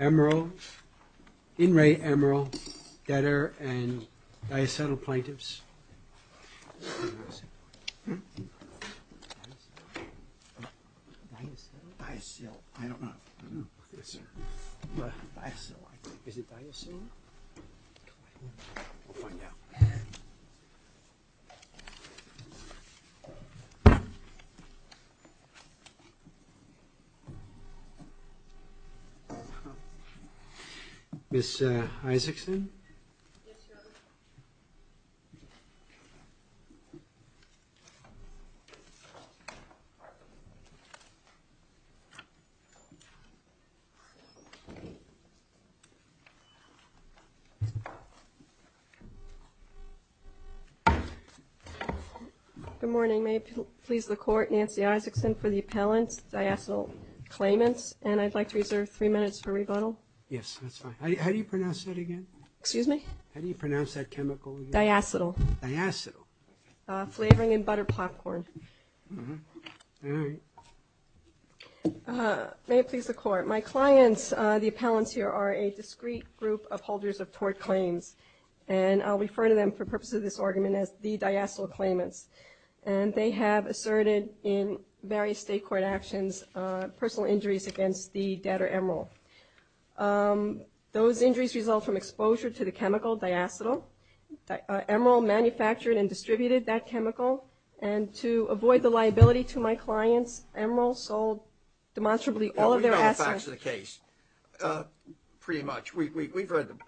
Emeral, In Re Emeral, Debtor and Diacetyl Plaintiffs. Ms. Isaacson? Yes, Your Honor. Good morning, may it please the Court, Nancy Isaacson for the appellant, Diacetyl Claimants, and I'd like to reserve three minutes for rebuttal. Yes, that's fine. How do you pronounce that again? Excuse me? How do you pronounce that chemical? Diacetyl. Diacetyl. Flavoring in butter popcorn. May it please the Court, my clients, the appellants here, are a discreet group of holders of tort claims, and I'll refer to them for purposes of this argument as the Diacetyl Claimants, and they have asserted in various state court actions personal injuries against the debtor Emeral. Those injuries result from exposure to the chemical Diacetyl, Emeral manufactured and to avoid the liability to my clients, Emeral sold demonstrably all of their assets. We know the facts of the case pretty much. We've read them.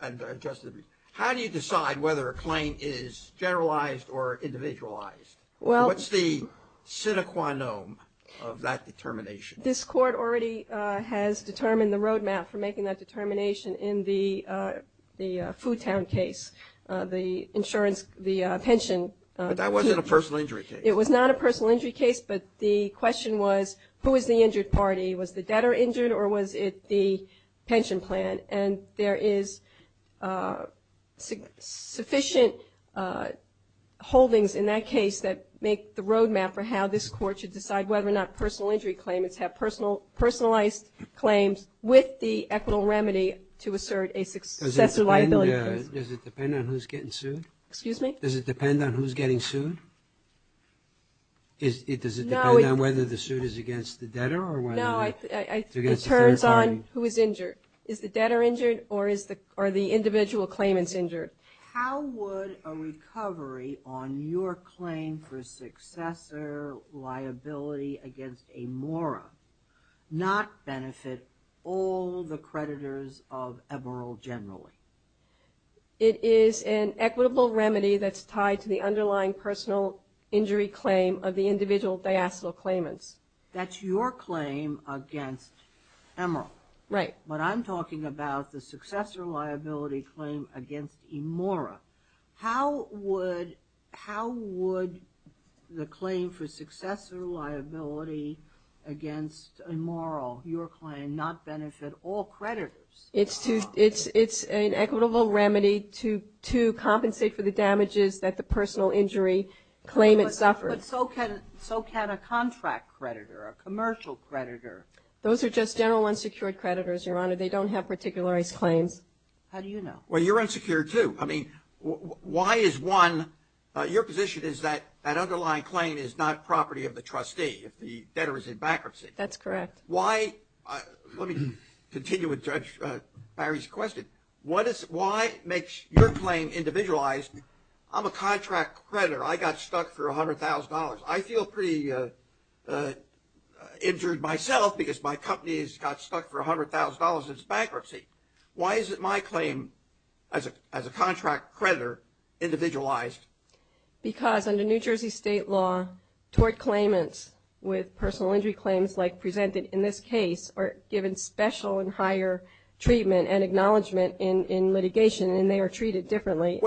How do you decide whether a claim is generalized or individualized? What's the sine qua non of that determination? This Court already has determined the road map for making that determination in the Foo Town case, the insurance, the pension. But that wasn't a personal injury case. It was not a personal injury case, but the question was, who is the injured party? Was the debtor injured or was it the pension plan? And there is sufficient holdings in that case that make the road map for how this Court should decide whether or not personal injury claimants have personalized claims with the equitable remedy to assert a successor liability. Does it depend on who's getting sued? Excuse me? Does it depend on who's getting sued? Does it depend on whether the suit is against the debtor or whether it's against the fair party? No, it turns on who is injured. Is the debtor injured or are the individual claimants injured? How would a recovery on your claim for successor liability against Amora not benefit all the creditors of Emeral generally? It is an equitable remedy that's tied to the underlying personal injury claim of the individual diastolic claimants. That's your claim against Emeral. Right. But I'm talking about the successor liability claim against Amora. How would the claim for successor liability against Emeral, your claim, not benefit all creditors? It's an equitable remedy to compensate for the damages that the personal injury claimant suffers. But so can a contract creditor, a commercial creditor. Those are just general unsecured creditors, Your Honor. They don't have particularized claims. How do you know? Well, you're unsecured, too. I mean, why is one – your position is that that underlying claim is not property of the trustee if the debtor is in bankruptcy. That's correct. Let me continue with Judge Barry's question. Why makes your claim individualized? I'm a contract creditor. I got stuck for $100,000. I feel pretty injured myself because my company has got stuck for $100,000. It's bankruptcy. Why is it my claim as a contract creditor individualized? Because under New Jersey state law, tort claimants with personal injury claims like presented in this case are given special and higher treatment and acknowledgement in litigation, and they are treated differently.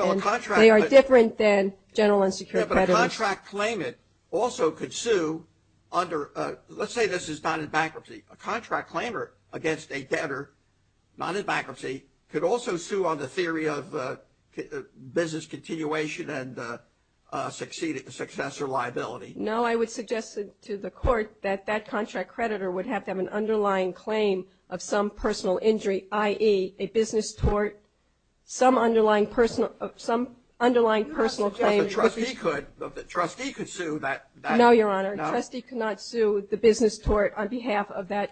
They are different than general unsecured creditors. Yeah, but a contract claimant also could sue under – let's say this is not in bankruptcy. A contract claimant against a debtor not in bankruptcy could also sue on the theory of business continuation and successor liability. No, I would suggest to the court that that contract creditor would have to have an underlying claim of some personal injury, i.e., a business tort, some underlying personal claim. You're not suggesting that the trustee could sue that – No, Your Honor. Trustee could not sue the business tort on behalf of that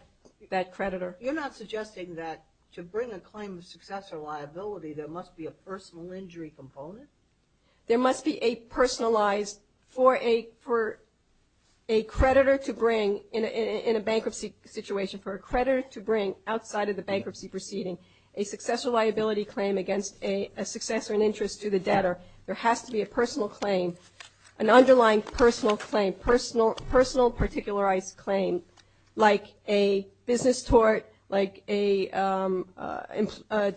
creditor. You're not suggesting that to bring a claim of successor liability, there must be a personal injury component? There must be a personalized for a creditor to bring in a bankruptcy situation, for a creditor to bring outside of the bankruptcy proceeding, a successor liability claim against a successor in interest to the debtor. There has to be a personal claim, an underlying personal claim, personal particularized claim like a business tort, like a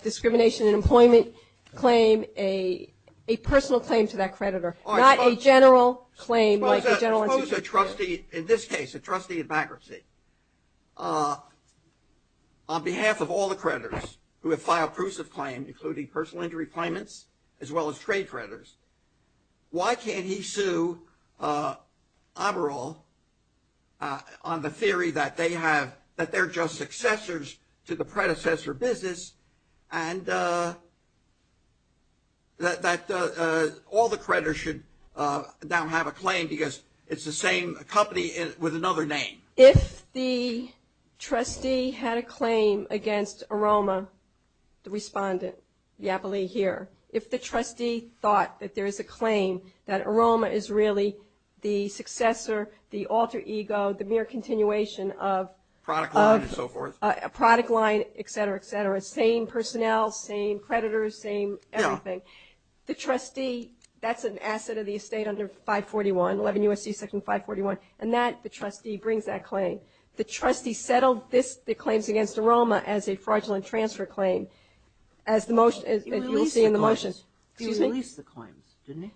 discrimination in employment claim, a personal claim to that creditor, not a general claim like a general institution claim. Suppose a trustee in this case, a trustee in bankruptcy, on behalf of all the creditors who have filed prusive claims, including personal injury claimants as well as trade creditors, why can't he sue Oberall on the theory that they're just successors to the predecessor business and that all the creditors should now have a claim because it's the same company with another name? If the trustee had a claim against Aroma, the respondent, the appellee here, if the trustee thought that there is a claim that Aroma is really the successor, the alter ego, the mere continuation of – Product line and so forth. Product line, et cetera, et cetera. Same personnel, same creditors, same everything. The trustee, that's an asset of the estate under 541, 11 U.S.C. section 541, and that, the trustee brings that claim. The trustee settled the claims against Aroma as a fraudulent transfer claim. As you'll see in the motion. He released the claims, didn't he?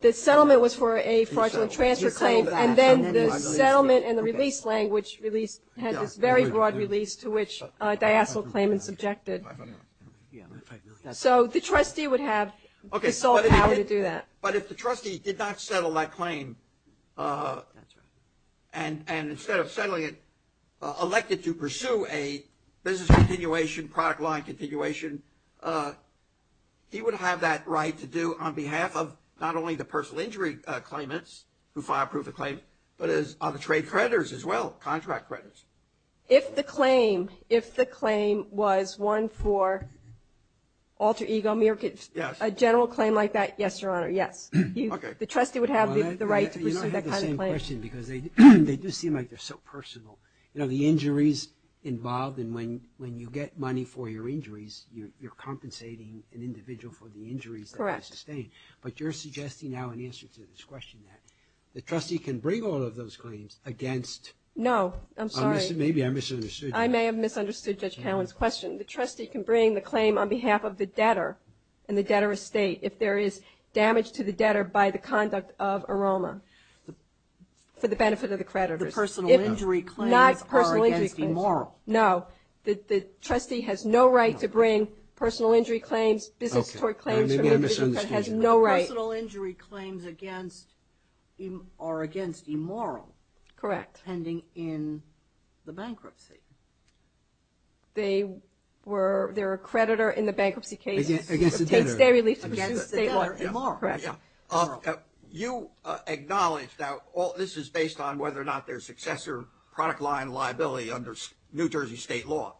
The settlement was for a fraudulent transfer claim and then the settlement and the release language had this very broad release to which diastolic claimants objected. So the trustee would have the sole power to do that. But if the trustee did not settle that claim and instead of settling it, elected to pursue a business continuation, product line continuation, he would have that right to do on behalf of not only the personal injury claimants who filed proof of claim but on the trade creditors as well, contract creditors. If the claim was one for alter ego, a general claim like that, yes, Your Honor, yes. The trustee would have the right to pursue that kind of claim. You don't have the same question because they do seem like they're so personal. You know, the injuries involved and when you get money for your injuries, you're compensating an individual for the injuries that they sustained. But you're suggesting now in answer to this question that the trustee can bring all of those claims against. No. I'm sorry. Maybe I misunderstood. I may have misunderstood Judge Callen's question. The trustee can bring the claim on behalf of the debtor and the debtor estate if there is damage to the debtor by the conduct of aroma for the benefit of the creditors. The personal injury claims are against immoral. No. The trustee has no right to bring personal injury claims, business toward claims from the business credit has no right. The personal injury claims are against immoral. Correct. Pending in the bankruptcy. They're a creditor in the bankruptcy case. Against the debtor. Against the debtor. Immoral. Correct. You acknowledge that this is based on whether or not their successor product line liability under New Jersey state law.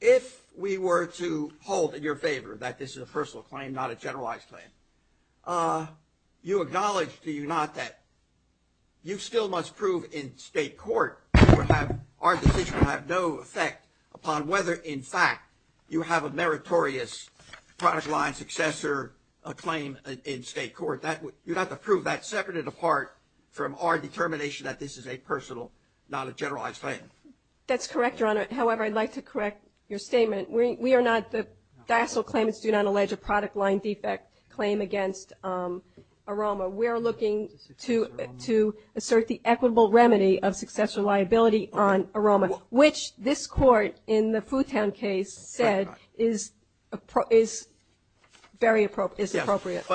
If we were to hold in your favor that this is a personal claim, not a generalized claim, you acknowledge, do you not, that you still must prove in state court our decision will have no effect upon whether, in fact, you have a meritorious product line successor claim in state court. You'd have to prove that separate and apart from our determination that this is a personal, not a generalized claim. That's correct, Your Honor. However, I'd like to correct your statement. We are not, the DASL claimants do not allege a product line defect claim against Aroma. We are looking to assert the equitable remedy of successor liability on Aroma, which this court in the Foodtown case said is very appropriate. Yes,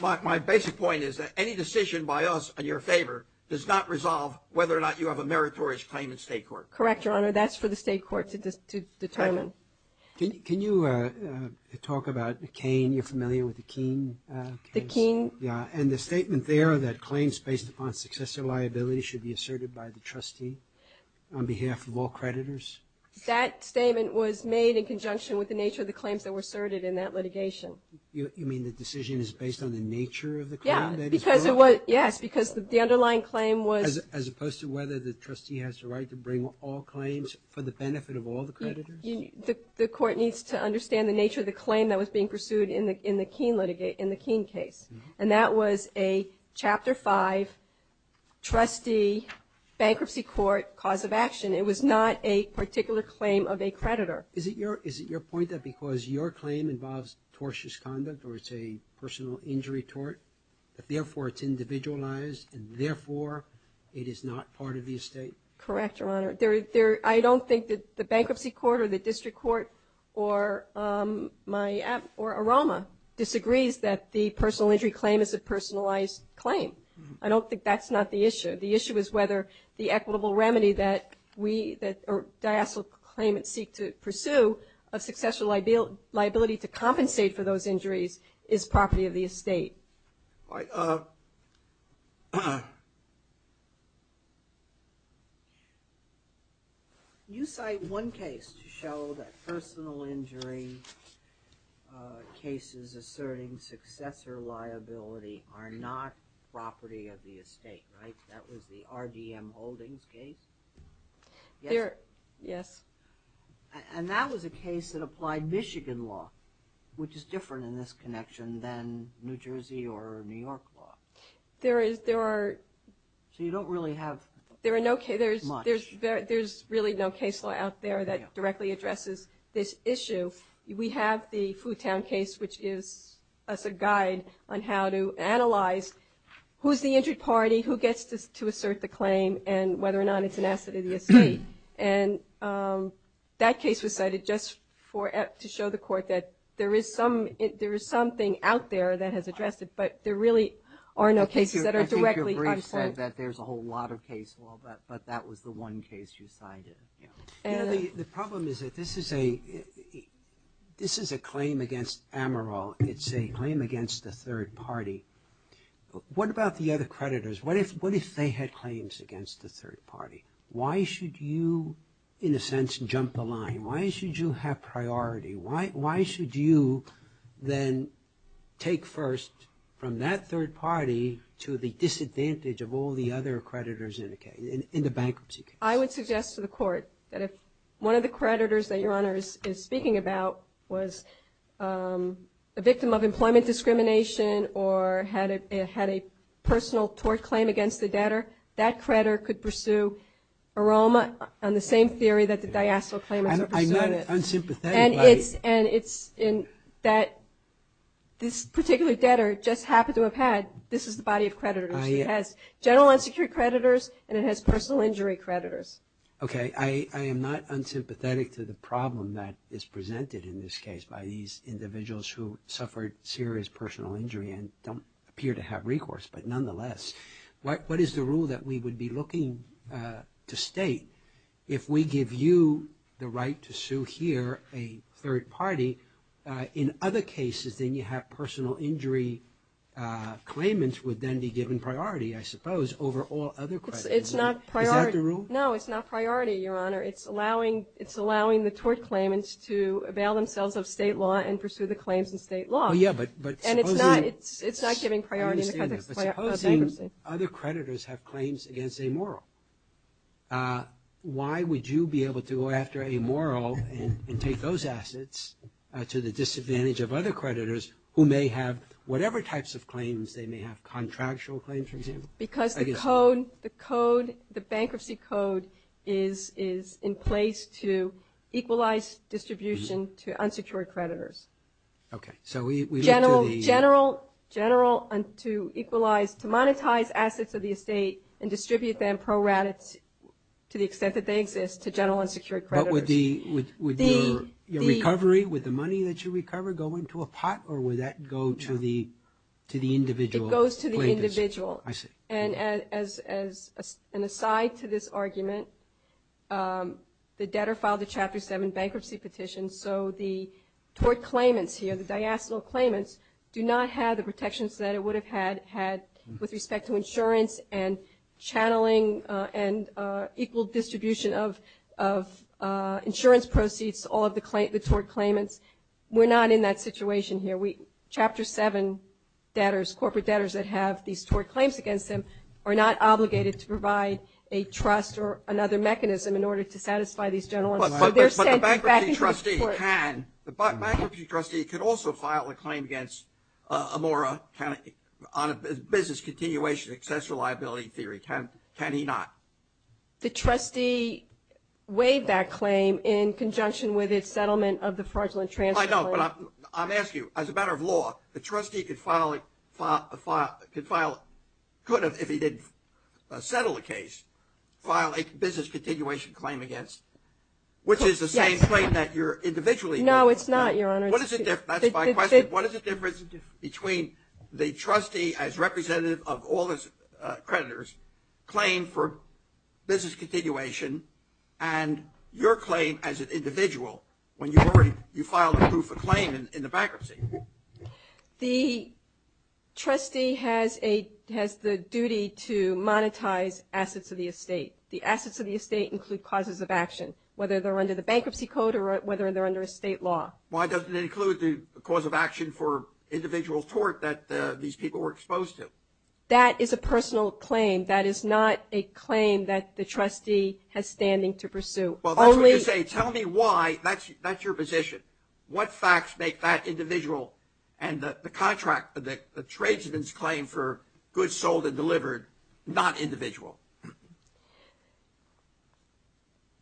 but my basic point is that any decision by us in your favor does not resolve whether or not you have a meritorious claim in state court. Correct, Your Honor. That's for the state court to determine. Can you talk about the Cain? You're familiar with the Cain case? The Cain? Yeah, and the statement there that claims based upon successor liability should be asserted by the trustee on behalf of all creditors? That statement was made in conjunction with the nature of the claims that were asserted in that litigation. You mean the decision is based on the nature of the claim? Yeah, because it was, yes, because the underlying claim was as opposed to whether the trustee has the right to bring all claims for the benefit of all the creditors? The court needs to understand the nature of the claim that was being pursued in the Cain litigate, in the Cain case, and that was a Chapter 5, trustee, bankruptcy court, cause of action. It was not a particular claim of a creditor. Is it your point that because your claim involves tortious conduct or it's a personal injury tort that, therefore, it's individualized and, therefore, it is not part of the estate? Correct, Your Honor. I don't think that the bankruptcy court or the district court or AROMA disagrees that the personal injury claim is a personalized claim. I don't think that's not the issue. The issue is whether the equitable remedy that diastolic claimants seek to pursue of liability to compensate for those injuries is property of the estate. You cite one case to show that personal injury cases asserting successor liability are not property of the estate, right? That was the RDM Holdings case? Yes. Yes. And that was a case that applied Michigan law, which is different in this connection than New Jersey or New York law. So you don't really have much? There's really no case law out there that directly addresses this issue. We have the Foo Town case, which gives us a guide on how to analyze who's the injured party, who gets to assert the claim, and whether or not it's an asset of the estate. And that case was cited just to show the court that there is something out there that has addressed it, but there really are no cases that are directly on point. I think your brief said that there's a whole lot of case law, but that was the one case you cited. The problem is that this is a claim against Amaral. It's a claim against a third party. What about the other creditors? What if they had claims against a third party? Why should you, in a sense, jump the line? Why should you have priority? Why should you then take first from that third party to the disadvantage of all the other creditors in the case, in the bankruptcy case? I would suggest to the court that if one of the creditors that Your Honor is speaking about was a victim of employment discrimination or had a personal tort claim against the debtor, that creditor could pursue a Roma on the same theory that the diastole claimant pursued it. I'm not unsympathetic. And it's that this particular debtor just happened to have had, this is the body of creditors. She has general unsecured creditors, and it has personal injury creditors. Okay. I am not unsympathetic to the problem that is presented in this case by these individuals who suffered serious personal injury and don't appear to have recourse, but nonetheless. What is the rule that we would be looking to state? If we give you the right to sue here a third party, in other cases, then you have personal injury claimants would then be given priority, I suppose, over all other creditors. Is that the rule? No, it's not priority, Your Honor. It's allowing the tort claimants to avail themselves of state law and pursue the claims in state law. And it's not giving priority in the context of bankruptcy. But supposing other creditors have claims against amoral, why would you be able to go after amoral and take those assets to the disadvantage of other creditors who may have whatever types of claims they may have, contractual claims, for example? Because the code, the bankruptcy code is in place to equalize distribution to unsecured creditors. General and to equalize, to monetize assets of the estate and distribute them to the extent that they exist to general unsecured creditors. But would your recovery, would the money that you recover go into a pot or would that go to the individual? It goes to the individual. I see. And aside to this argument, the debtor filed a Chapter 7 bankruptcy petition. So the tort claimants here, the diastole claimants, do not have the protections that it would have had with respect to insurance and channeling and equal distribution of insurance proceeds, all of the tort claimants. We're not in that situation here. Chapter 7 debtors, corporate debtors that have these tort claims against them, are not obligated to provide a trust or another mechanism in order to satisfy these general unsecured debtors. The bankruptcy trustee can. The bankruptcy trustee could also file a claim against Amora on a business continuation excess reliability theory, can he not? The trustee waived that claim in conjunction with its settlement of the fraudulent transfer. I know, but I'm asking you, as a matter of law, the trustee could file, could if he didn't settle the case, file a business continuation claim against, which is the same claim that you're individually. No, it's not, Your Honor. That's my question. What is the difference between the trustee as representative of all his creditors, claim for business continuation, and your claim as an individual, when you file a proof of claim in the bankruptcy? The assets of the estate include causes of action, whether they're under the bankruptcy code or whether they're under estate law. Why doesn't it include the cause of action for individual tort that these people were exposed to? That is a personal claim. That is not a claim that the trustee has standing to pursue. Well, that's what you say. Tell me why. That's your position. What facts make that individual and the contract, the tradesman's claim for goods sold and delivered not individual?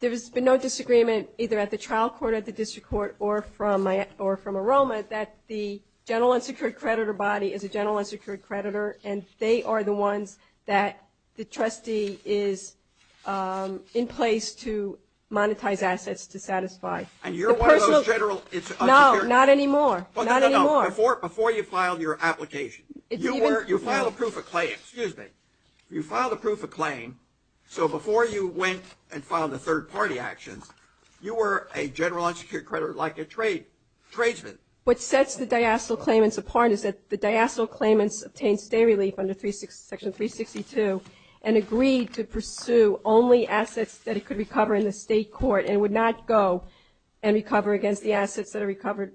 There has been no disagreement either at the trial court, at the district court, or from AROMA that the general unsecured creditor body is a general unsecured creditor, and they are the ones that the trustee is in place to monetize assets to satisfy. And you're one of those general unsecured? No, not anymore. Not anymore. Before you filed your application. You filed a proof of claim. Excuse me. You filed a proof of claim, so before you went and filed the third-party actions, you were a general unsecured creditor like a tradesman. What sets the diastole claimants apart is that the diastole claimants obtained stay relief under Section 362 and agreed to pursue only assets that it could recover in the state court and would not go and recover against the assets that are recovered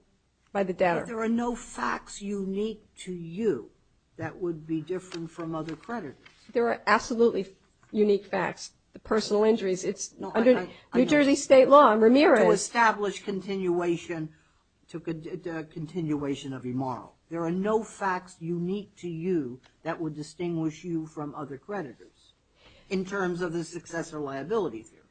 by the debtor. There are no facts unique to you that would be different from other creditors. There are absolutely unique facts. The personal injuries, it's under New Jersey state law and Ramirez. To establish continuation of immoral. There are no facts unique to you that would distinguish you from other creditors, in terms of the successor liability theory.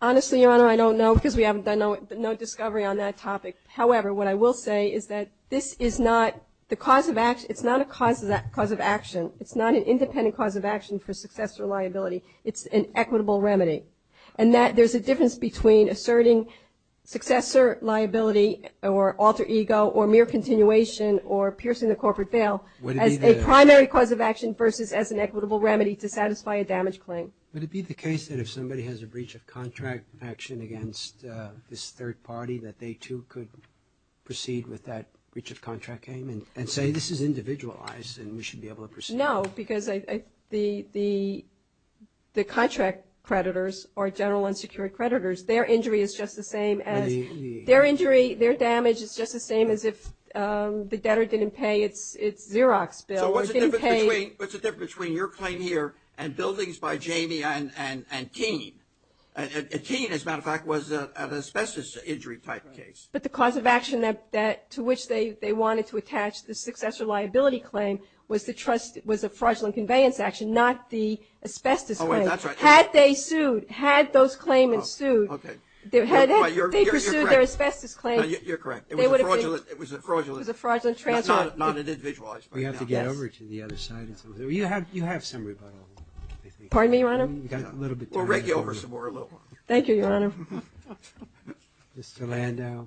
Honestly, Your Honor, I don't know because we haven't done no discovery on that topic. However, what I will say is that this is not the cause of action. It's not a cause of action. It's not an independent cause of action for successor liability. It's an equitable remedy. And that there's a difference between asserting successor liability or alter ego or mere continuation or piercing the corporate veil as a primary cause of action versus as an equitable remedy to satisfy a damage claim. Would it be the case that if somebody has a breach of contract action against this third party that they too could proceed with that breach of contract claim and say this is individualized and we should be able to proceed? No, because the contract creditors or general unsecured creditors, their injury is just the same as their injury, their damage is just the same as if the debtor didn't pay its Xerox bill. So what's the difference between your claim here and buildings by Jamie and Keene? And Keene, as a matter of fact, was an asbestos injury type case. But the cause of action to which they wanted to attach the successor liability claim was a fraudulent conveyance action, not the asbestos claim. Oh, wait, that's right. Had they sued, had those claimants sued, they pursued their asbestos claim. You're correct. It was a fraudulent transfer. Not an individualized claim. We have to get over to the other side. You have some rebuttal. Pardon me, Your Honor? We'll rig you over some more, a little more. Thank you, Your Honor. Mr. Landau.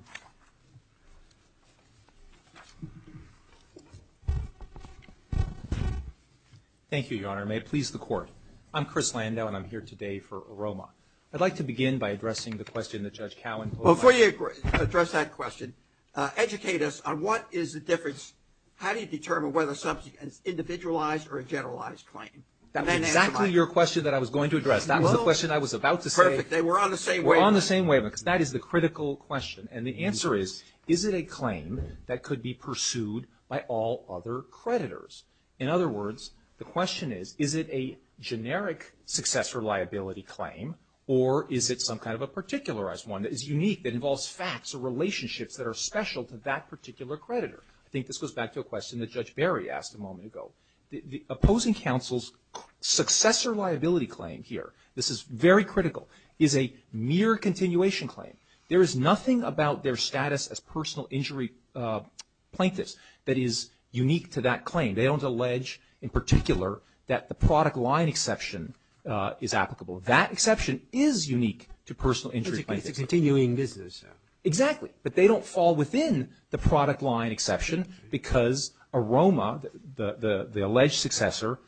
Thank you, Your Honor. May it please the Court. I'm Chris Landau and I'm here today for AROMA. I'd like to begin by addressing the question that Judge Cowan put up. Before you address that question, educate us on what is the difference, how do you determine whether something is individualized or a generalized claim? That was exactly your question that I was going to address. That was the question I was about to say. Perfect. They were on the same wave. They were on the same wave because that is the critical question. And the answer is, is it a claim that could be pursued by all other creditors? In other words, the question is, is it a generic successor liability claim or is it some kind of a particularized one that is unique, that involves facts or relationships that are special to that particular creditor? I think this goes back to a question that Judge Barry asked a moment ago. The opposing counsel's successor liability claim here, this is very critical, is a mere continuation claim. There is nothing about their status as personal injury plaintiffs that is unique to that claim. They don't allege in particular that the product line exception is applicable. That exception is unique to personal injury plaintiffs. It's a continuing business. Exactly. But they don't fall within the product line exception because AROMA, the alleged successor,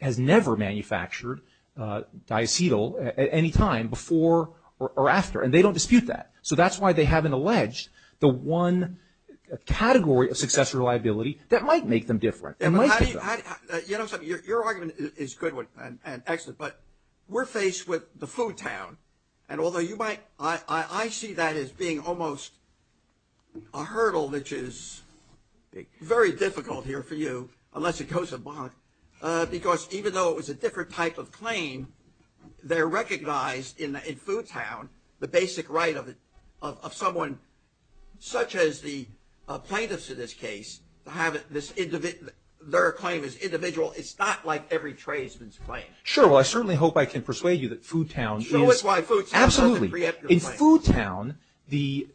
has never manufactured diacetyl at any time before or after, and they don't dispute that. So that's why they haven't alleged the one category of successor liability that might make them different. Your argument is good and excellent, but we're faced with the food town, and although I see that as being almost a hurdle, which is very difficult here for you unless it goes to bond, because even though it was a different type of claim, they're recognized in food town, the basic right of someone such as the plaintiffs in this case, to have their claim as individual. It's not like every tradesman's claim. Sure. Well, I certainly hope I can persuade you that food town is. Show us why food town is not the preemptive claim. Absolutely. In food town, the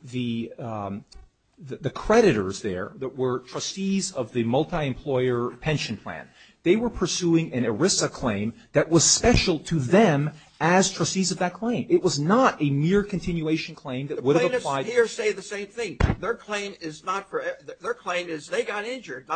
creditors there that were trustees of the multi-employer pension plan, they were pursuing an ERISA claim that was special to them as trustees of that claim. It was not a mere continuation claim that would have applied. The plaintiffs here say the same thing. Their claim is they got injured,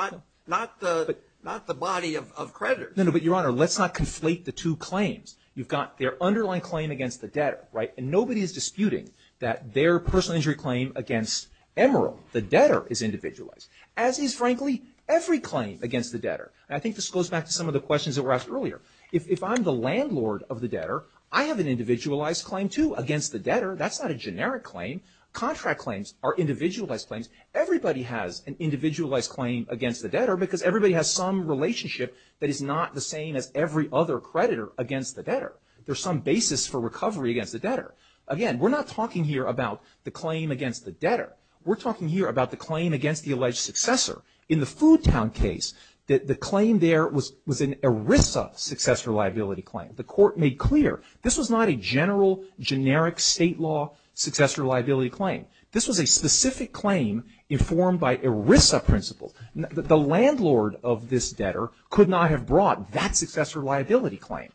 not the body of creditors. No, no, but, Your Honor, let's not conflate the two claims. You've got their underlying claim against the debtor, right, and nobody is disputing that their personal injury claim against Emeril, the debtor, is individualized, as is, frankly, every claim against the debtor. And I think this goes back to some of the questions that were asked earlier. If I'm the landlord of the debtor, I have an individualized claim, too, against the debtor. That's not a generic claim. Contract claims are individualized claims. Everybody has an individualized claim against the debtor because everybody has some relationship that is not the same as every other creditor against the debtor. There's some basis for recovery against the debtor. Again, we're not talking here about the claim against the debtor. We're talking here about the claim against the alleged successor. In the food town case, the claim there was an ERISA successor liability claim. The court made clear this was not a general, generic state law successor liability claim. This was a specific claim informed by ERISA principles. The landlord of this debtor could not have brought that successor liability claim.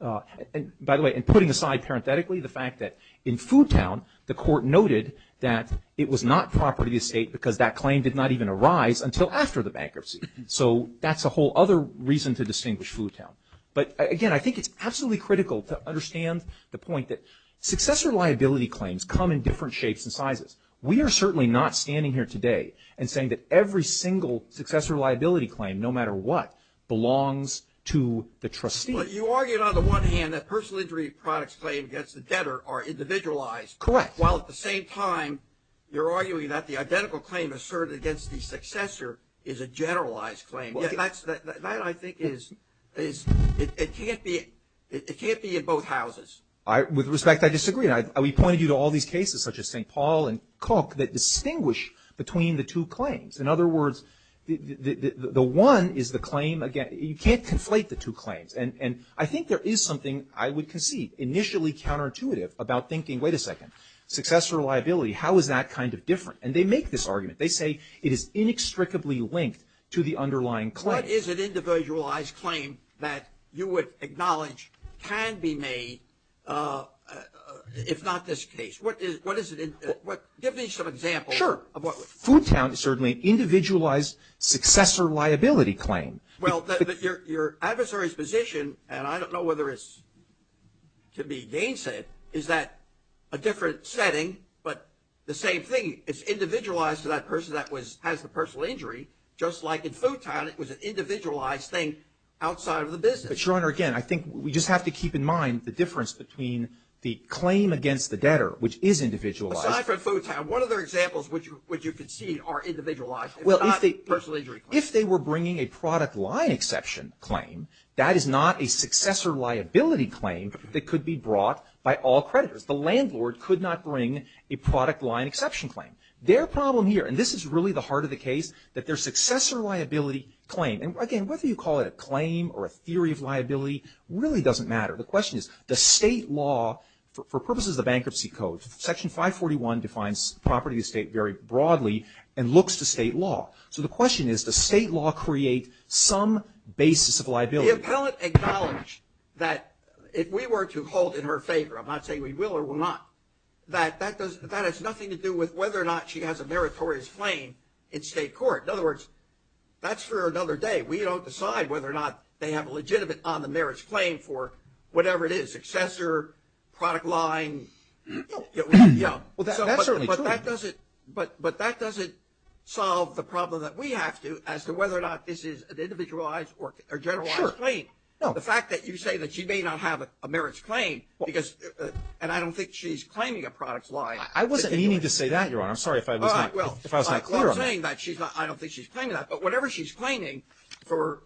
By the way, and putting aside parenthetically the fact that in food town, the court noted that it was not proper to the estate because that claim did not even arise until after the bankruptcy. So that's a whole other reason to distinguish food town. But, again, I think it's absolutely critical to understand the point that successor liability claims come in different shapes and sizes. We are certainly not standing here today and saying that every single successor liability claim, no matter what, belongs to the trustee. But you argued on the one hand that personal injury products claimed against the debtor are individualized. Correct. While at the same time, you're arguing that the identical claim asserted against the successor is a generalized claim. That I think is, it can't be in both houses. With respect, I disagree. We pointed you to all these cases such as St. Paul and Cook that distinguish between the two claims. In other words, the one is the claim, again, you can't conflate the two claims. And I think there is something I would concede, initially counterintuitive about thinking, wait a second, successor liability, how is that kind of different? And they make this argument. They say it is inextricably linked to the underlying claim. What is an individualized claim that you would acknowledge can be made if not this case? Give me some examples. Sure. Foodtown is certainly an individualized successor liability claim. Well, your adversary's position, and I don't know whether it's to be gainsaid, is that a different setting, but the same thing, it's individualized to that person that has the personal injury, just like in Foodtown it was an individualized thing outside of the business. But, Your Honor, again, I think we just have to keep in mind the difference between the claim against the debtor, which is individualized. Aside from Foodtown, what other examples would you concede are individualized? Well, if they were bringing a product line exception claim, that is not a successor liability claim that could be brought by all creditors. The landlord could not bring a product line exception claim. Their problem here, and this is really the heart of the case, that their successor liability claim, and, again, whether you call it a claim or a theory of liability really doesn't matter. The question is, does state law, for purposes of the Bankruptcy Code, Section 541 defines property of the state very broadly and looks to state law. So the question is, does state law create some basis of liability? The appellant acknowledged that if we were to hold in her favor, I'm not saying we will or will not, that that has nothing to do with whether or not she has a meritorious claim in state court. In other words, that's for another day. We don't decide whether or not they have a legitimate on the merits claim for whatever it is, successor, product line. Well, that's certainly true. But that doesn't solve the problem that we have to as to whether or not this is an individualized or generalized claim. Sure. The fact that you say that she may not have a merits claim because, and I don't think she's claiming a product line. I wasn't meaning to say that, Your Honor. I'm sorry if I was not clear on that. Well, I'm saying that she's not, I don't think she's claiming that. But whatever she's claiming for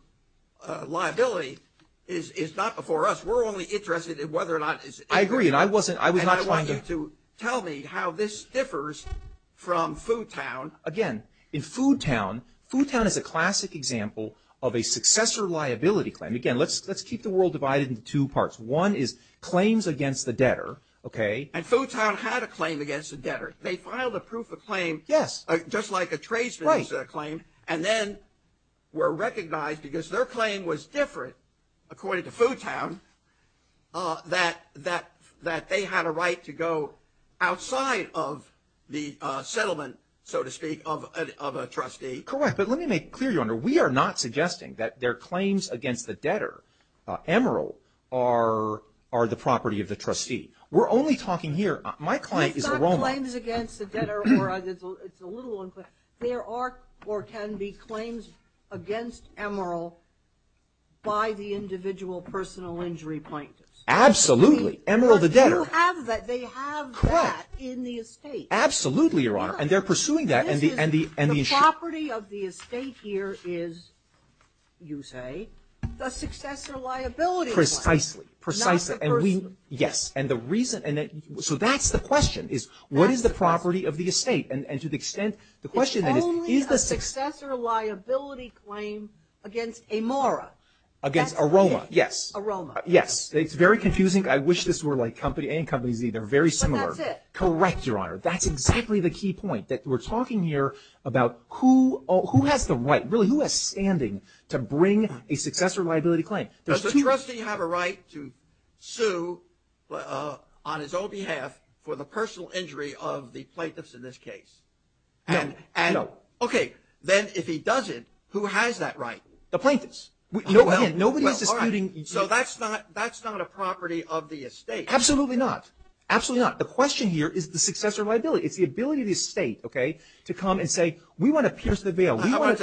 liability is not before us. We're only interested in whether or not it's individual. I agree, and I wasn't, I was not trying to. And I want you to tell me how this differs from Foodtown. Again, in Foodtown, Foodtown is a classic example of a successor liability claim. Again, let's keep the world divided into two parts. One is claims against the debtor, okay. And Foodtown had a claim against the debtor. They filed a proof of claim. Yes. Just like a tradesman's claim. And then were recognized because their claim was different, according to Foodtown, that they had a right to go outside of the settlement, so to speak, of a trustee. Correct. But let me make clear, Your Honor, we are not suggesting that their claims against the debtor, Emeril, are the property of the trustee. We're only talking here, my client is a Roman. It's not claims against the debtor, or it's a little unclear. There are or can be claims against Emeril by the individual personal injury plaintiffs. Absolutely. Emeril the debtor. But you have that, they have that in the estate. Correct. Absolutely, Your Honor. And they're pursuing that and the issue. The property of the estate here is, you say, the successor liability. Precisely. Precisely. Not the person. Yes. And the reason, so that's the question, is what is the property of the estate? And to the extent, the question is, is the successor liability claim against Amara? Against Aroma, yes. Aroma. Yes. It's very confusing. I wish this were like company A and company Z. They're very similar. But that's it. Correct, Your Honor. That's exactly the key point, that we're talking here about who has the right, really, who has standing to bring a successor liability claim. Does the trustee have a right to sue on his own behalf for the personal injury of the plaintiffs in this case? No. No. Okay. Then if he doesn't, who has that right? The plaintiffs. Again, nobody is disputing. So that's not a property of the estate. Absolutely not. Absolutely not. The question here is the successor liability. It's the ability of the estate, okay, to come and say, we want to pierce the veil. I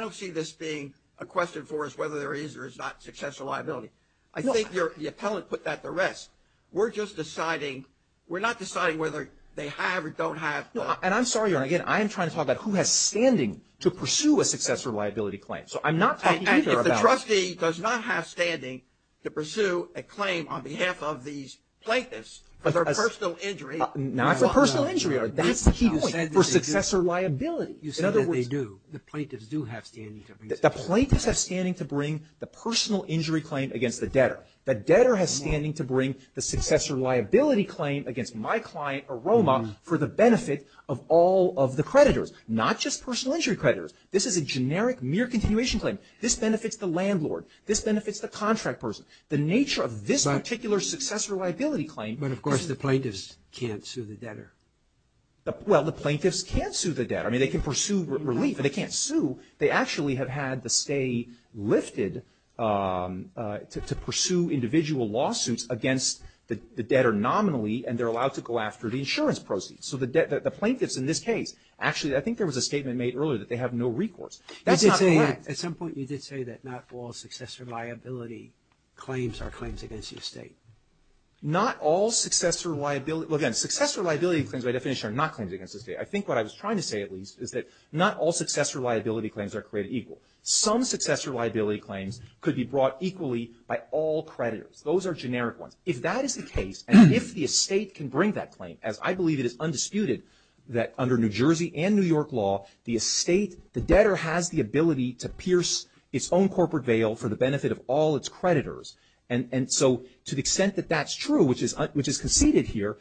don't see this being a question for us whether there is or is not successor liability. I think the appellant put that to rest. We're just deciding, we're not deciding whether they have or don't have. And I'm sorry, Your Honor, again, I am trying to talk about who has standing to pursue a successor liability claim. So I'm not talking either about it. And if the trustee does not have standing to pursue a claim on behalf of these plaintiffs for personal injury. Not for personal injury. That's the key point. For successor liability. You said that they do. The plaintiffs do have standing to pursue. The plaintiffs have standing to bring the personal injury claim against the debtor. The debtor has standing to bring the successor liability claim against my client, Aroma, for the benefit of all of the creditors, not just personal injury creditors. This is a generic mere continuation claim. This benefits the landlord. This benefits the contract person. The nature of this particular successor liability claim. But, of course, the plaintiffs can't sue the debtor. Well, the plaintiffs can't sue the debtor. I mean, they can pursue relief, but they can't sue. They actually have had to stay lifted to pursue individual lawsuits against the debtor nominally, and they're allowed to go after the insurance proceeds. So the plaintiffs in this case, actually, I think there was a statement made earlier that they have no recourse. That's not correct. At some point you did say that not all successor liability claims are claims against the estate. Not all successor liability – well, again, successor liability claims, by definition, are not claims against the estate. I think what I was trying to say, at least, is that not all successor liability claims are created equal. Some successor liability claims could be brought equally by all creditors. Those are generic ones. If that is the case, and if the estate can bring that claim, as I believe it is undisputed that under New Jersey and New York law, the debtor has the ability to pierce its own corporate veil for the benefit of all its creditors. And so to the extent that that's true, which is conceded here,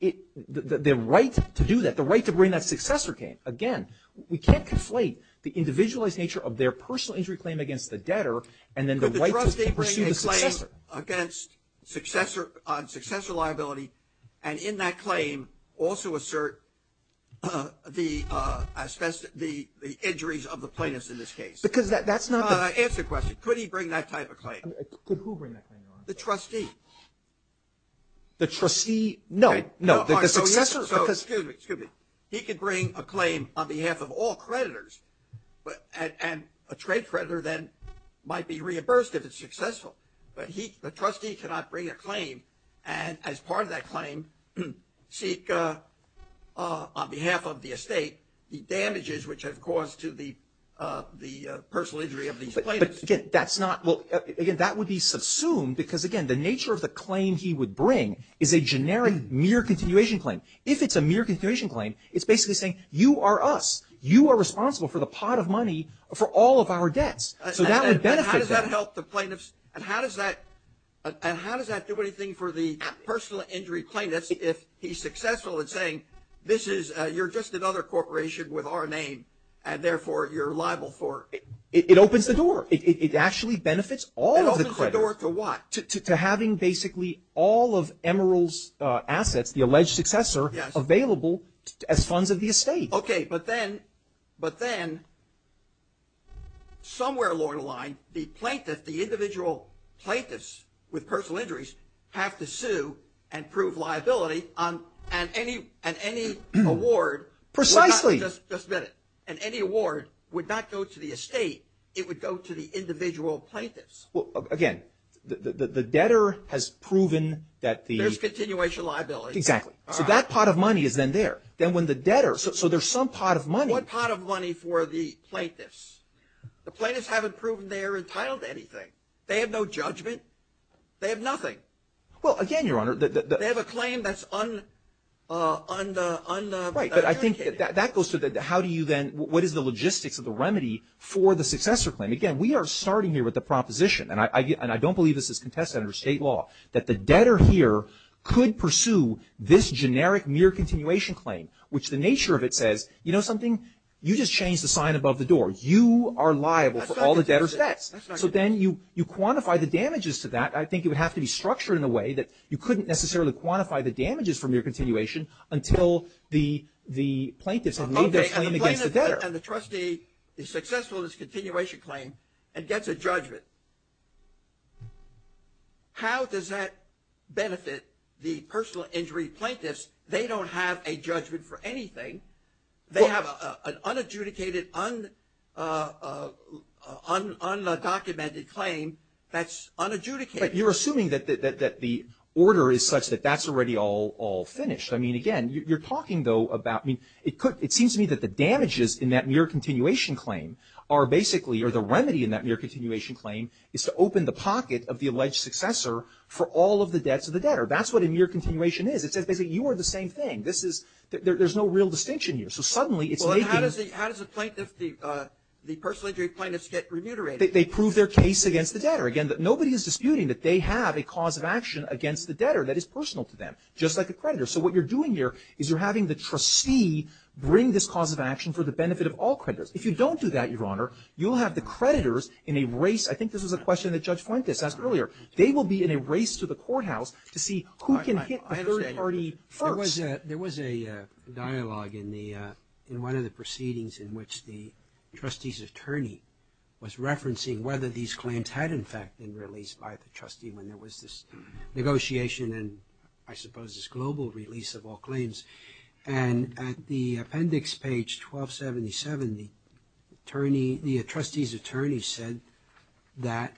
the right to do that, the right to bring that successor claim – again, we can't conflate the individualized nature of their personal injury claim against the debtor and then the right to pursue the successor. Successor liability and in that claim also assert the injuries of the plaintiffs in this case. Because that's not the – Answer the question. Could he bring that type of claim? Could who bring that claim? The trustee. The trustee? No. No. The successor? Excuse me. He could bring a claim on behalf of all creditors, and a trade creditor then might be reimbursed if it's successful. But the trustee cannot bring a claim and as part of that claim seek on behalf of the estate the damages which have caused to the personal injury of these plaintiffs. But again, that's not – well, again, that would be subsumed because, again, the nature of the claim he would bring is a generic mere continuation claim. If it's a mere continuation claim, it's basically saying you are us. You are responsible for the pot of money for all of our debts. So that would benefit them. How does that help the plaintiffs and how does that do anything for the personal injury plaintiffs if he's successful in saying this is – you're just another corporation with our name and therefore you're liable for – It opens the door. It actually benefits all of the creditors. It opens the door to what? To having basically all of Emeril's assets, the alleged successor, available as funds of the estate. Okay, but then somewhere along the line the plaintiff, the individual plaintiffs with personal injuries have to sue and prove liability and any award – Precisely. Just a minute. And any award would not go to the estate. It would go to the individual plaintiffs. Well, again, the debtor has proven that the – There's continuation liability. Exactly. So that pot of money is then there. Then when the debtor – so there's some pot of money. What pot of money for the plaintiffs? The plaintiffs haven't proven they're entitled to anything. They have no judgment. They have nothing. Well, again, Your Honor, the – They have a claim that's unadjudicated. Right, but I think that goes to the how do you then – what is the logistics of the remedy for the successor claim? Again, we are starting here with the proposition, and I don't believe this is contested under state law, that the debtor here could pursue this generic mere continuation claim, which the nature of it says, you know something, you just changed the sign above the door. You are liable for all the debtor's debts. That's not contested. So then you quantify the damages to that. I think it would have to be structured in a way that you couldn't necessarily quantify the damages from your continuation until the plaintiffs have made their claim against the debtor. Okay, and the plaintiff and the trustee is successful in this continuation claim and gets a judgment. How does that benefit the personal injury plaintiffs? They don't have a judgment for anything. They have an unadjudicated, undocumented claim that's unadjudicated. But you're assuming that the order is such that that's already all finished. I mean, again, you're talking, though, about – I mean, it seems to me that the damages in that mere continuation claim are basically – or the remedy in that mere continuation claim is to open the pocket of the alleged successor for all of the debts of the debtor. That's what a mere continuation is. It says basically you are the same thing. This is – there's no real distinction here. So suddenly it's making – Well, how does the plaintiff – the personal injury plaintiffs get remunerated? They prove their case against the debtor. Again, nobody is disputing that they have a cause of action against the debtor that is personal to them, just like a creditor. So what you're doing here is you're having the trustee bring this cause of action for the benefit of all creditors. If you don't do that, Your Honor, you'll have the creditors in a race – I think this was a question that Judge Fuentes asked earlier. They will be in a race to the courthouse to see who can hit the third party first. There was a dialogue in one of the proceedings in which the trustee's attorney was referencing whether these claims had, in fact, been released by the trustee when there was this negotiation And at the appendix page 1277, the attorney – the trustee's attorney said that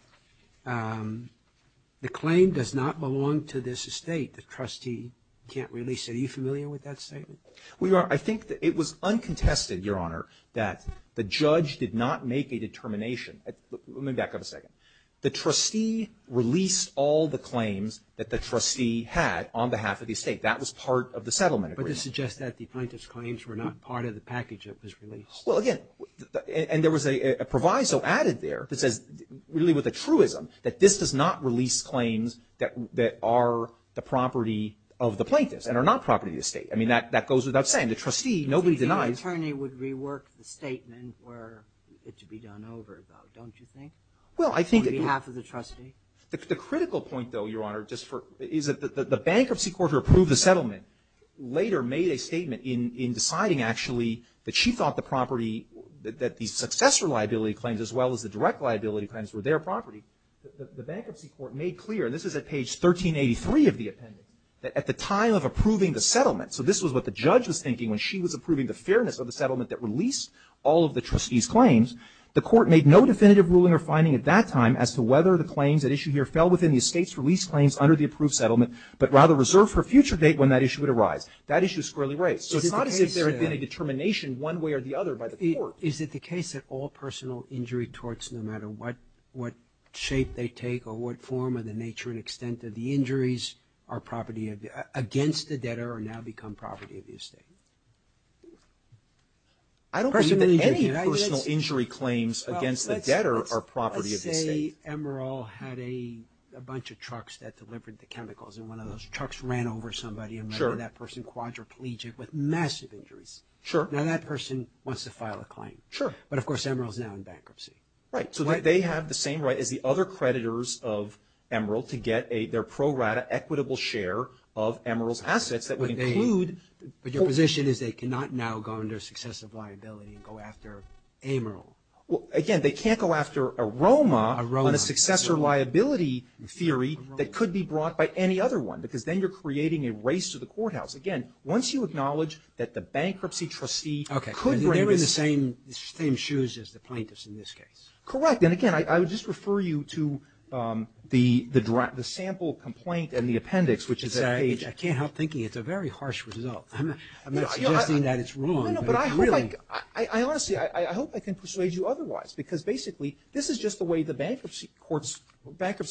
the claim does not belong to this estate. The trustee can't release it. Are you familiar with that statement? Well, Your Honor, I think that it was uncontested, Your Honor, that the judge did not make a determination. Let me back up a second. The trustee released all the claims that the trustee had on behalf of the estate. That was part of the settlement agreement. But this suggests that the plaintiff's claims were not part of the package that was released. Well, again – and there was a proviso added there that says, really with a truism, that this does not release claims that are the property of the plaintiff's and are not property of the estate. I mean, that goes without saying. The trustee – nobody denies – So the attorney would rework the statement for it to be done over, though, don't you think? Well, I think – On behalf of the trustee? The critical point, though, Your Honor, just for – is that the bankruptcy court who approved the settlement later made a statement in deciding, actually, that she thought the property – that the successor liability claims as well as the direct liability claims were their property. The bankruptcy court made clear – and this is at page 1383 of the appendix – that at the time of approving the settlement – so this was what the judge was thinking when she was approving the fairness of the settlement that released all of the trustee's claims – the court made no definitive ruling or finding at that time as to whether the claims at issue here fell within the estate's release claims under the approved settlement but rather reserved for a future date when that issue would arise. That issue is squarely raised. So it's not as if there had been a determination one way or the other by the court. Is it the case that all personal injury torts, no matter what shape they take or what form or the nature and extent of the injuries, are property of the – against the debtor or now become property of the estate? I don't believe that any personal injury claims against the debtor are property of the estate. Let's say Emeril had a bunch of trucks that delivered the chemicals and one of those trucks ran over somebody and left that person quadriplegic with massive injuries. Sure. Now that person wants to file a claim. Sure. But of course Emeril's now in bankruptcy. Right. So they have the same right as the other creditors of Emeril to get their pro rata, equitable share of Emeril's assets that would include – But your position is they cannot now go under successive liability and go after Emeril. Well, again, they can't go after Aroma on a successor liability theory that could be brought by any other one because then you're creating a race to the courthouse. Again, once you acknowledge that the bankruptcy trustee could bring this – Okay. They're in the same shoes as the plaintiffs in this case. Correct. And again, I would just refer you to the sample complaint and the appendix, which is that page. I can't help thinking it's a very harsh result. I'm not suggesting that it's wrong, but it's really – I honestly – I hope I can persuade you otherwise because basically this is just the way the bankruptcy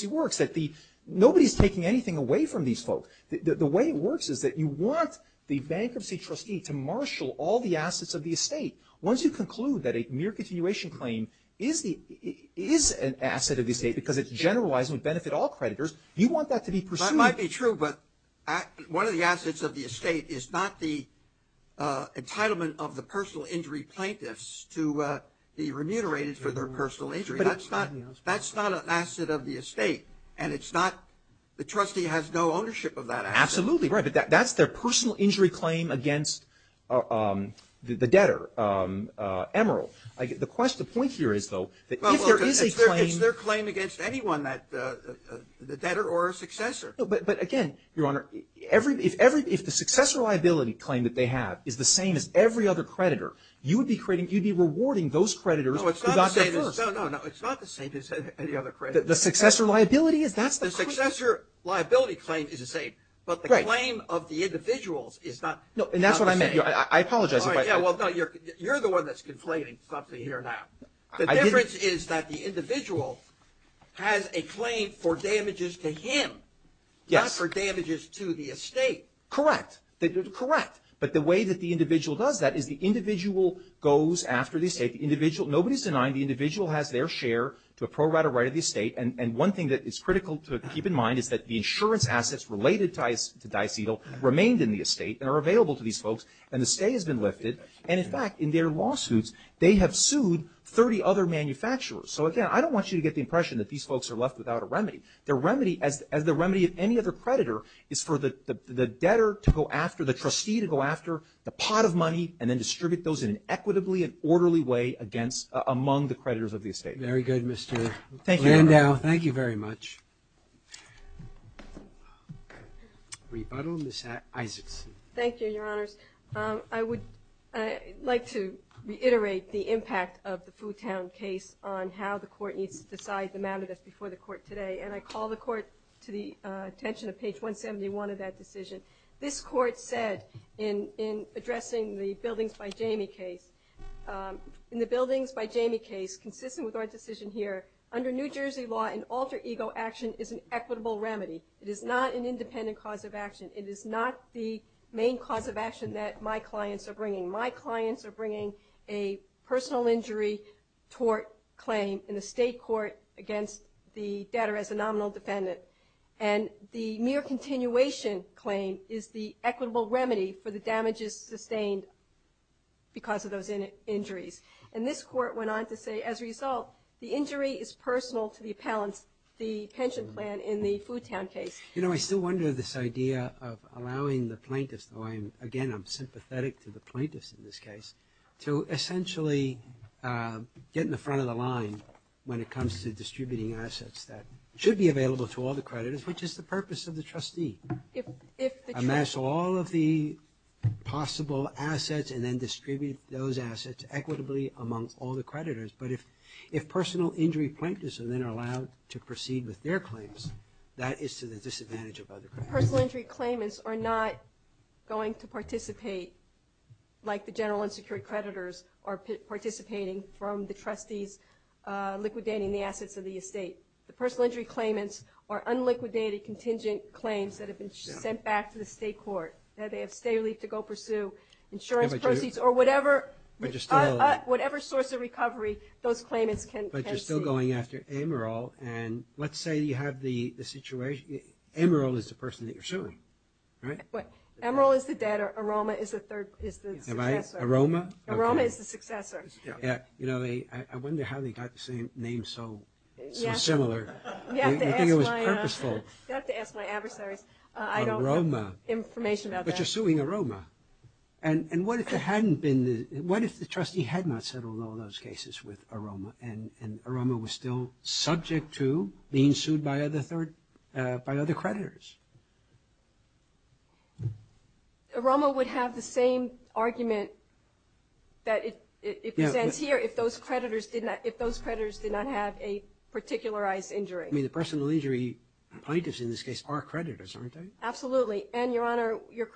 works, that nobody's taking anything away from these folks. The way it works is that you want the bankruptcy trustee to marshal all the assets of the estate. Once you conclude that a mere continuation claim is an asset of the estate because it's generalized and would benefit all creditors, you want that to be pursued. It might be true, but one of the assets of the estate is not the entitlement of the personal injury plaintiffs to be remunerated for their personal injury. That's not an asset of the estate, and it's not – the trustee has no ownership of that asset. Absolutely right, but that's their personal injury claim against the debtor, Emeril. The point here is, though, that if there is a claim – It's their claim against anyone, the debtor or a successor. No, but again, Your Honor, if the successor liability claim that they have is the same as every other creditor, you would be creating – you'd be rewarding those creditors who got there first. No, it's not the same as – no, no, no. It's not the same as any other creditors. The successor liability is – that's the claim. The successor liability claim is the same, but the claim of the individuals is not the same. No, and that's what I meant. I apologize if I – Yeah, well, no, you're the one that's conflating something here now. The difference is that the individual has a claim for damages to him, not for damages to the estate. Correct. Correct. But the way that the individual does that is the individual goes after the estate. The individual – nobody's denying the individual has their share to appropriate a right of the estate. And one thing that is critical to keep in mind is that the insurance assets related to DiCedil remained in the estate and are available to these folks, and the stay has been lifted. And, in fact, in their lawsuits, they have sued 30 other manufacturers. So, again, I don't want you to get the impression that these folks are left without a remedy. Their remedy, as the remedy of any other creditor, is for the debtor to go after – the trustee to go after the pot of money and then distribute those in an equitably and orderly way against – among the creditors of the estate. Very good, Mr. Landau. Thank you. Thank you very much. Rebuttal, Ms. Isaacson. Thank you, Your Honors. I would like to reiterate the impact of the Foo Town case on how the Court needs to decide the matter that's before the Court today. And I call the Court to the attention of page 171 of that decision. This Court said in addressing the Buildings by Jamie case, in the Buildings by Jamie case, consistent with our decision here, under New Jersey law, an alter ego action is an equitable remedy. It is not an independent cause of action. It is not the main cause of action that my clients are bringing. My clients are bringing a personal injury tort claim in the state court against the debtor as a nominal defendant. And the mere continuation claim is the equitable remedy for the damages sustained because of those injuries. And this Court went on to say, as a result, the injury is personal to the appellant, the pension plan in the Foo Town case. You know, I still wonder this idea of allowing the plaintiffs, though, again, I'm sympathetic to the plaintiffs in this case, to essentially get in the front of the line when it comes to distributing assets that should be available to all the creditors, which is the purpose of the trustee. Amass all of the possible assets and then distribute those assets equitably amongst all the creditors. But if personal injury plaintiffs are then allowed to proceed with their claims, that is to the disadvantage of other creditors. Personal injury claimants are not going to participate, like the general unsecured creditors are participating from the trustees liquidating the assets of the estate. The personal injury claimants are unliquidated contingent claims that have been sent back to the state court. Now they have state relief to go pursue, insurance proceeds, or whatever source of recovery those claimants can see. You're still going after Amaral, and let's say you have the situation, Amaral is the person that you're suing, right? Amaral is the debtor, Aroma is the successor. Aroma? Aroma is the successor. I wonder how they got the same name so similar. You'd think it was purposeful. You'd have to ask my adversaries. Aroma. I don't have information about that. But you're suing Aroma. And what if the trustee had not settled all those cases with Aroma and Aroma was still subject to being sued by other creditors? Aroma would have the same argument that it presents here if those creditors did not have a particularized injury. I mean the personal injury plaintiffs in this case are creditors, aren't they? Absolutely. And, Your Honor, your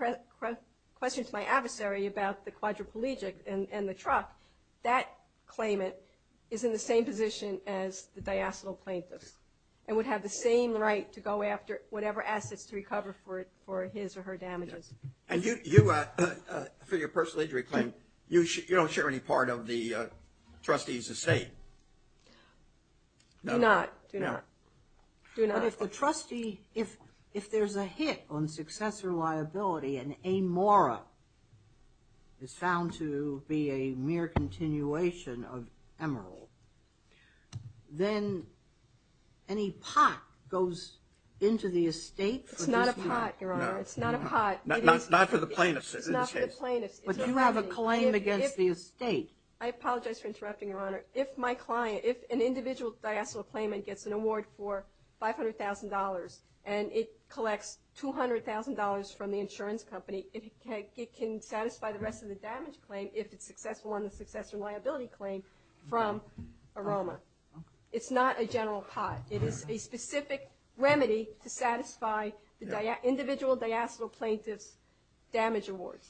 question to my adversary about the quadriplegic and the truck, that claimant is in the same position as the diacinal plaintiffs and would have the same right to go after whatever assets to recover for his or her damages. And for your personal injury claim, you don't share any part of the trustee's estate? Do not. Do not. Do not. But if the trustee, if there's a hit on successor liability and a mora is found to be a mere continuation of emerald, then any pot goes into the estate for this? It's not a pot, Your Honor. It's not a pot. Not for the plaintiffs. It's not for the plaintiffs. But you have a claim against the estate. I apologize for interrupting, Your Honor. If my client, if an individual diacinal claimant gets an award for $500,000 and it collects $200,000 from the insurance company, it can satisfy the rest of the damage claim if it's successful on the successor liability claim from Aroma. It's not a general pot. It is a specific remedy to satisfy the individual diacinal plaintiff's damage awards.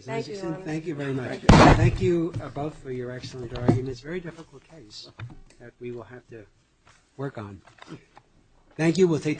Thank you, Your Honor. Thank you very much. Thank you both for your excellent argument. It's a very difficult case that we will have to work on. Thank you.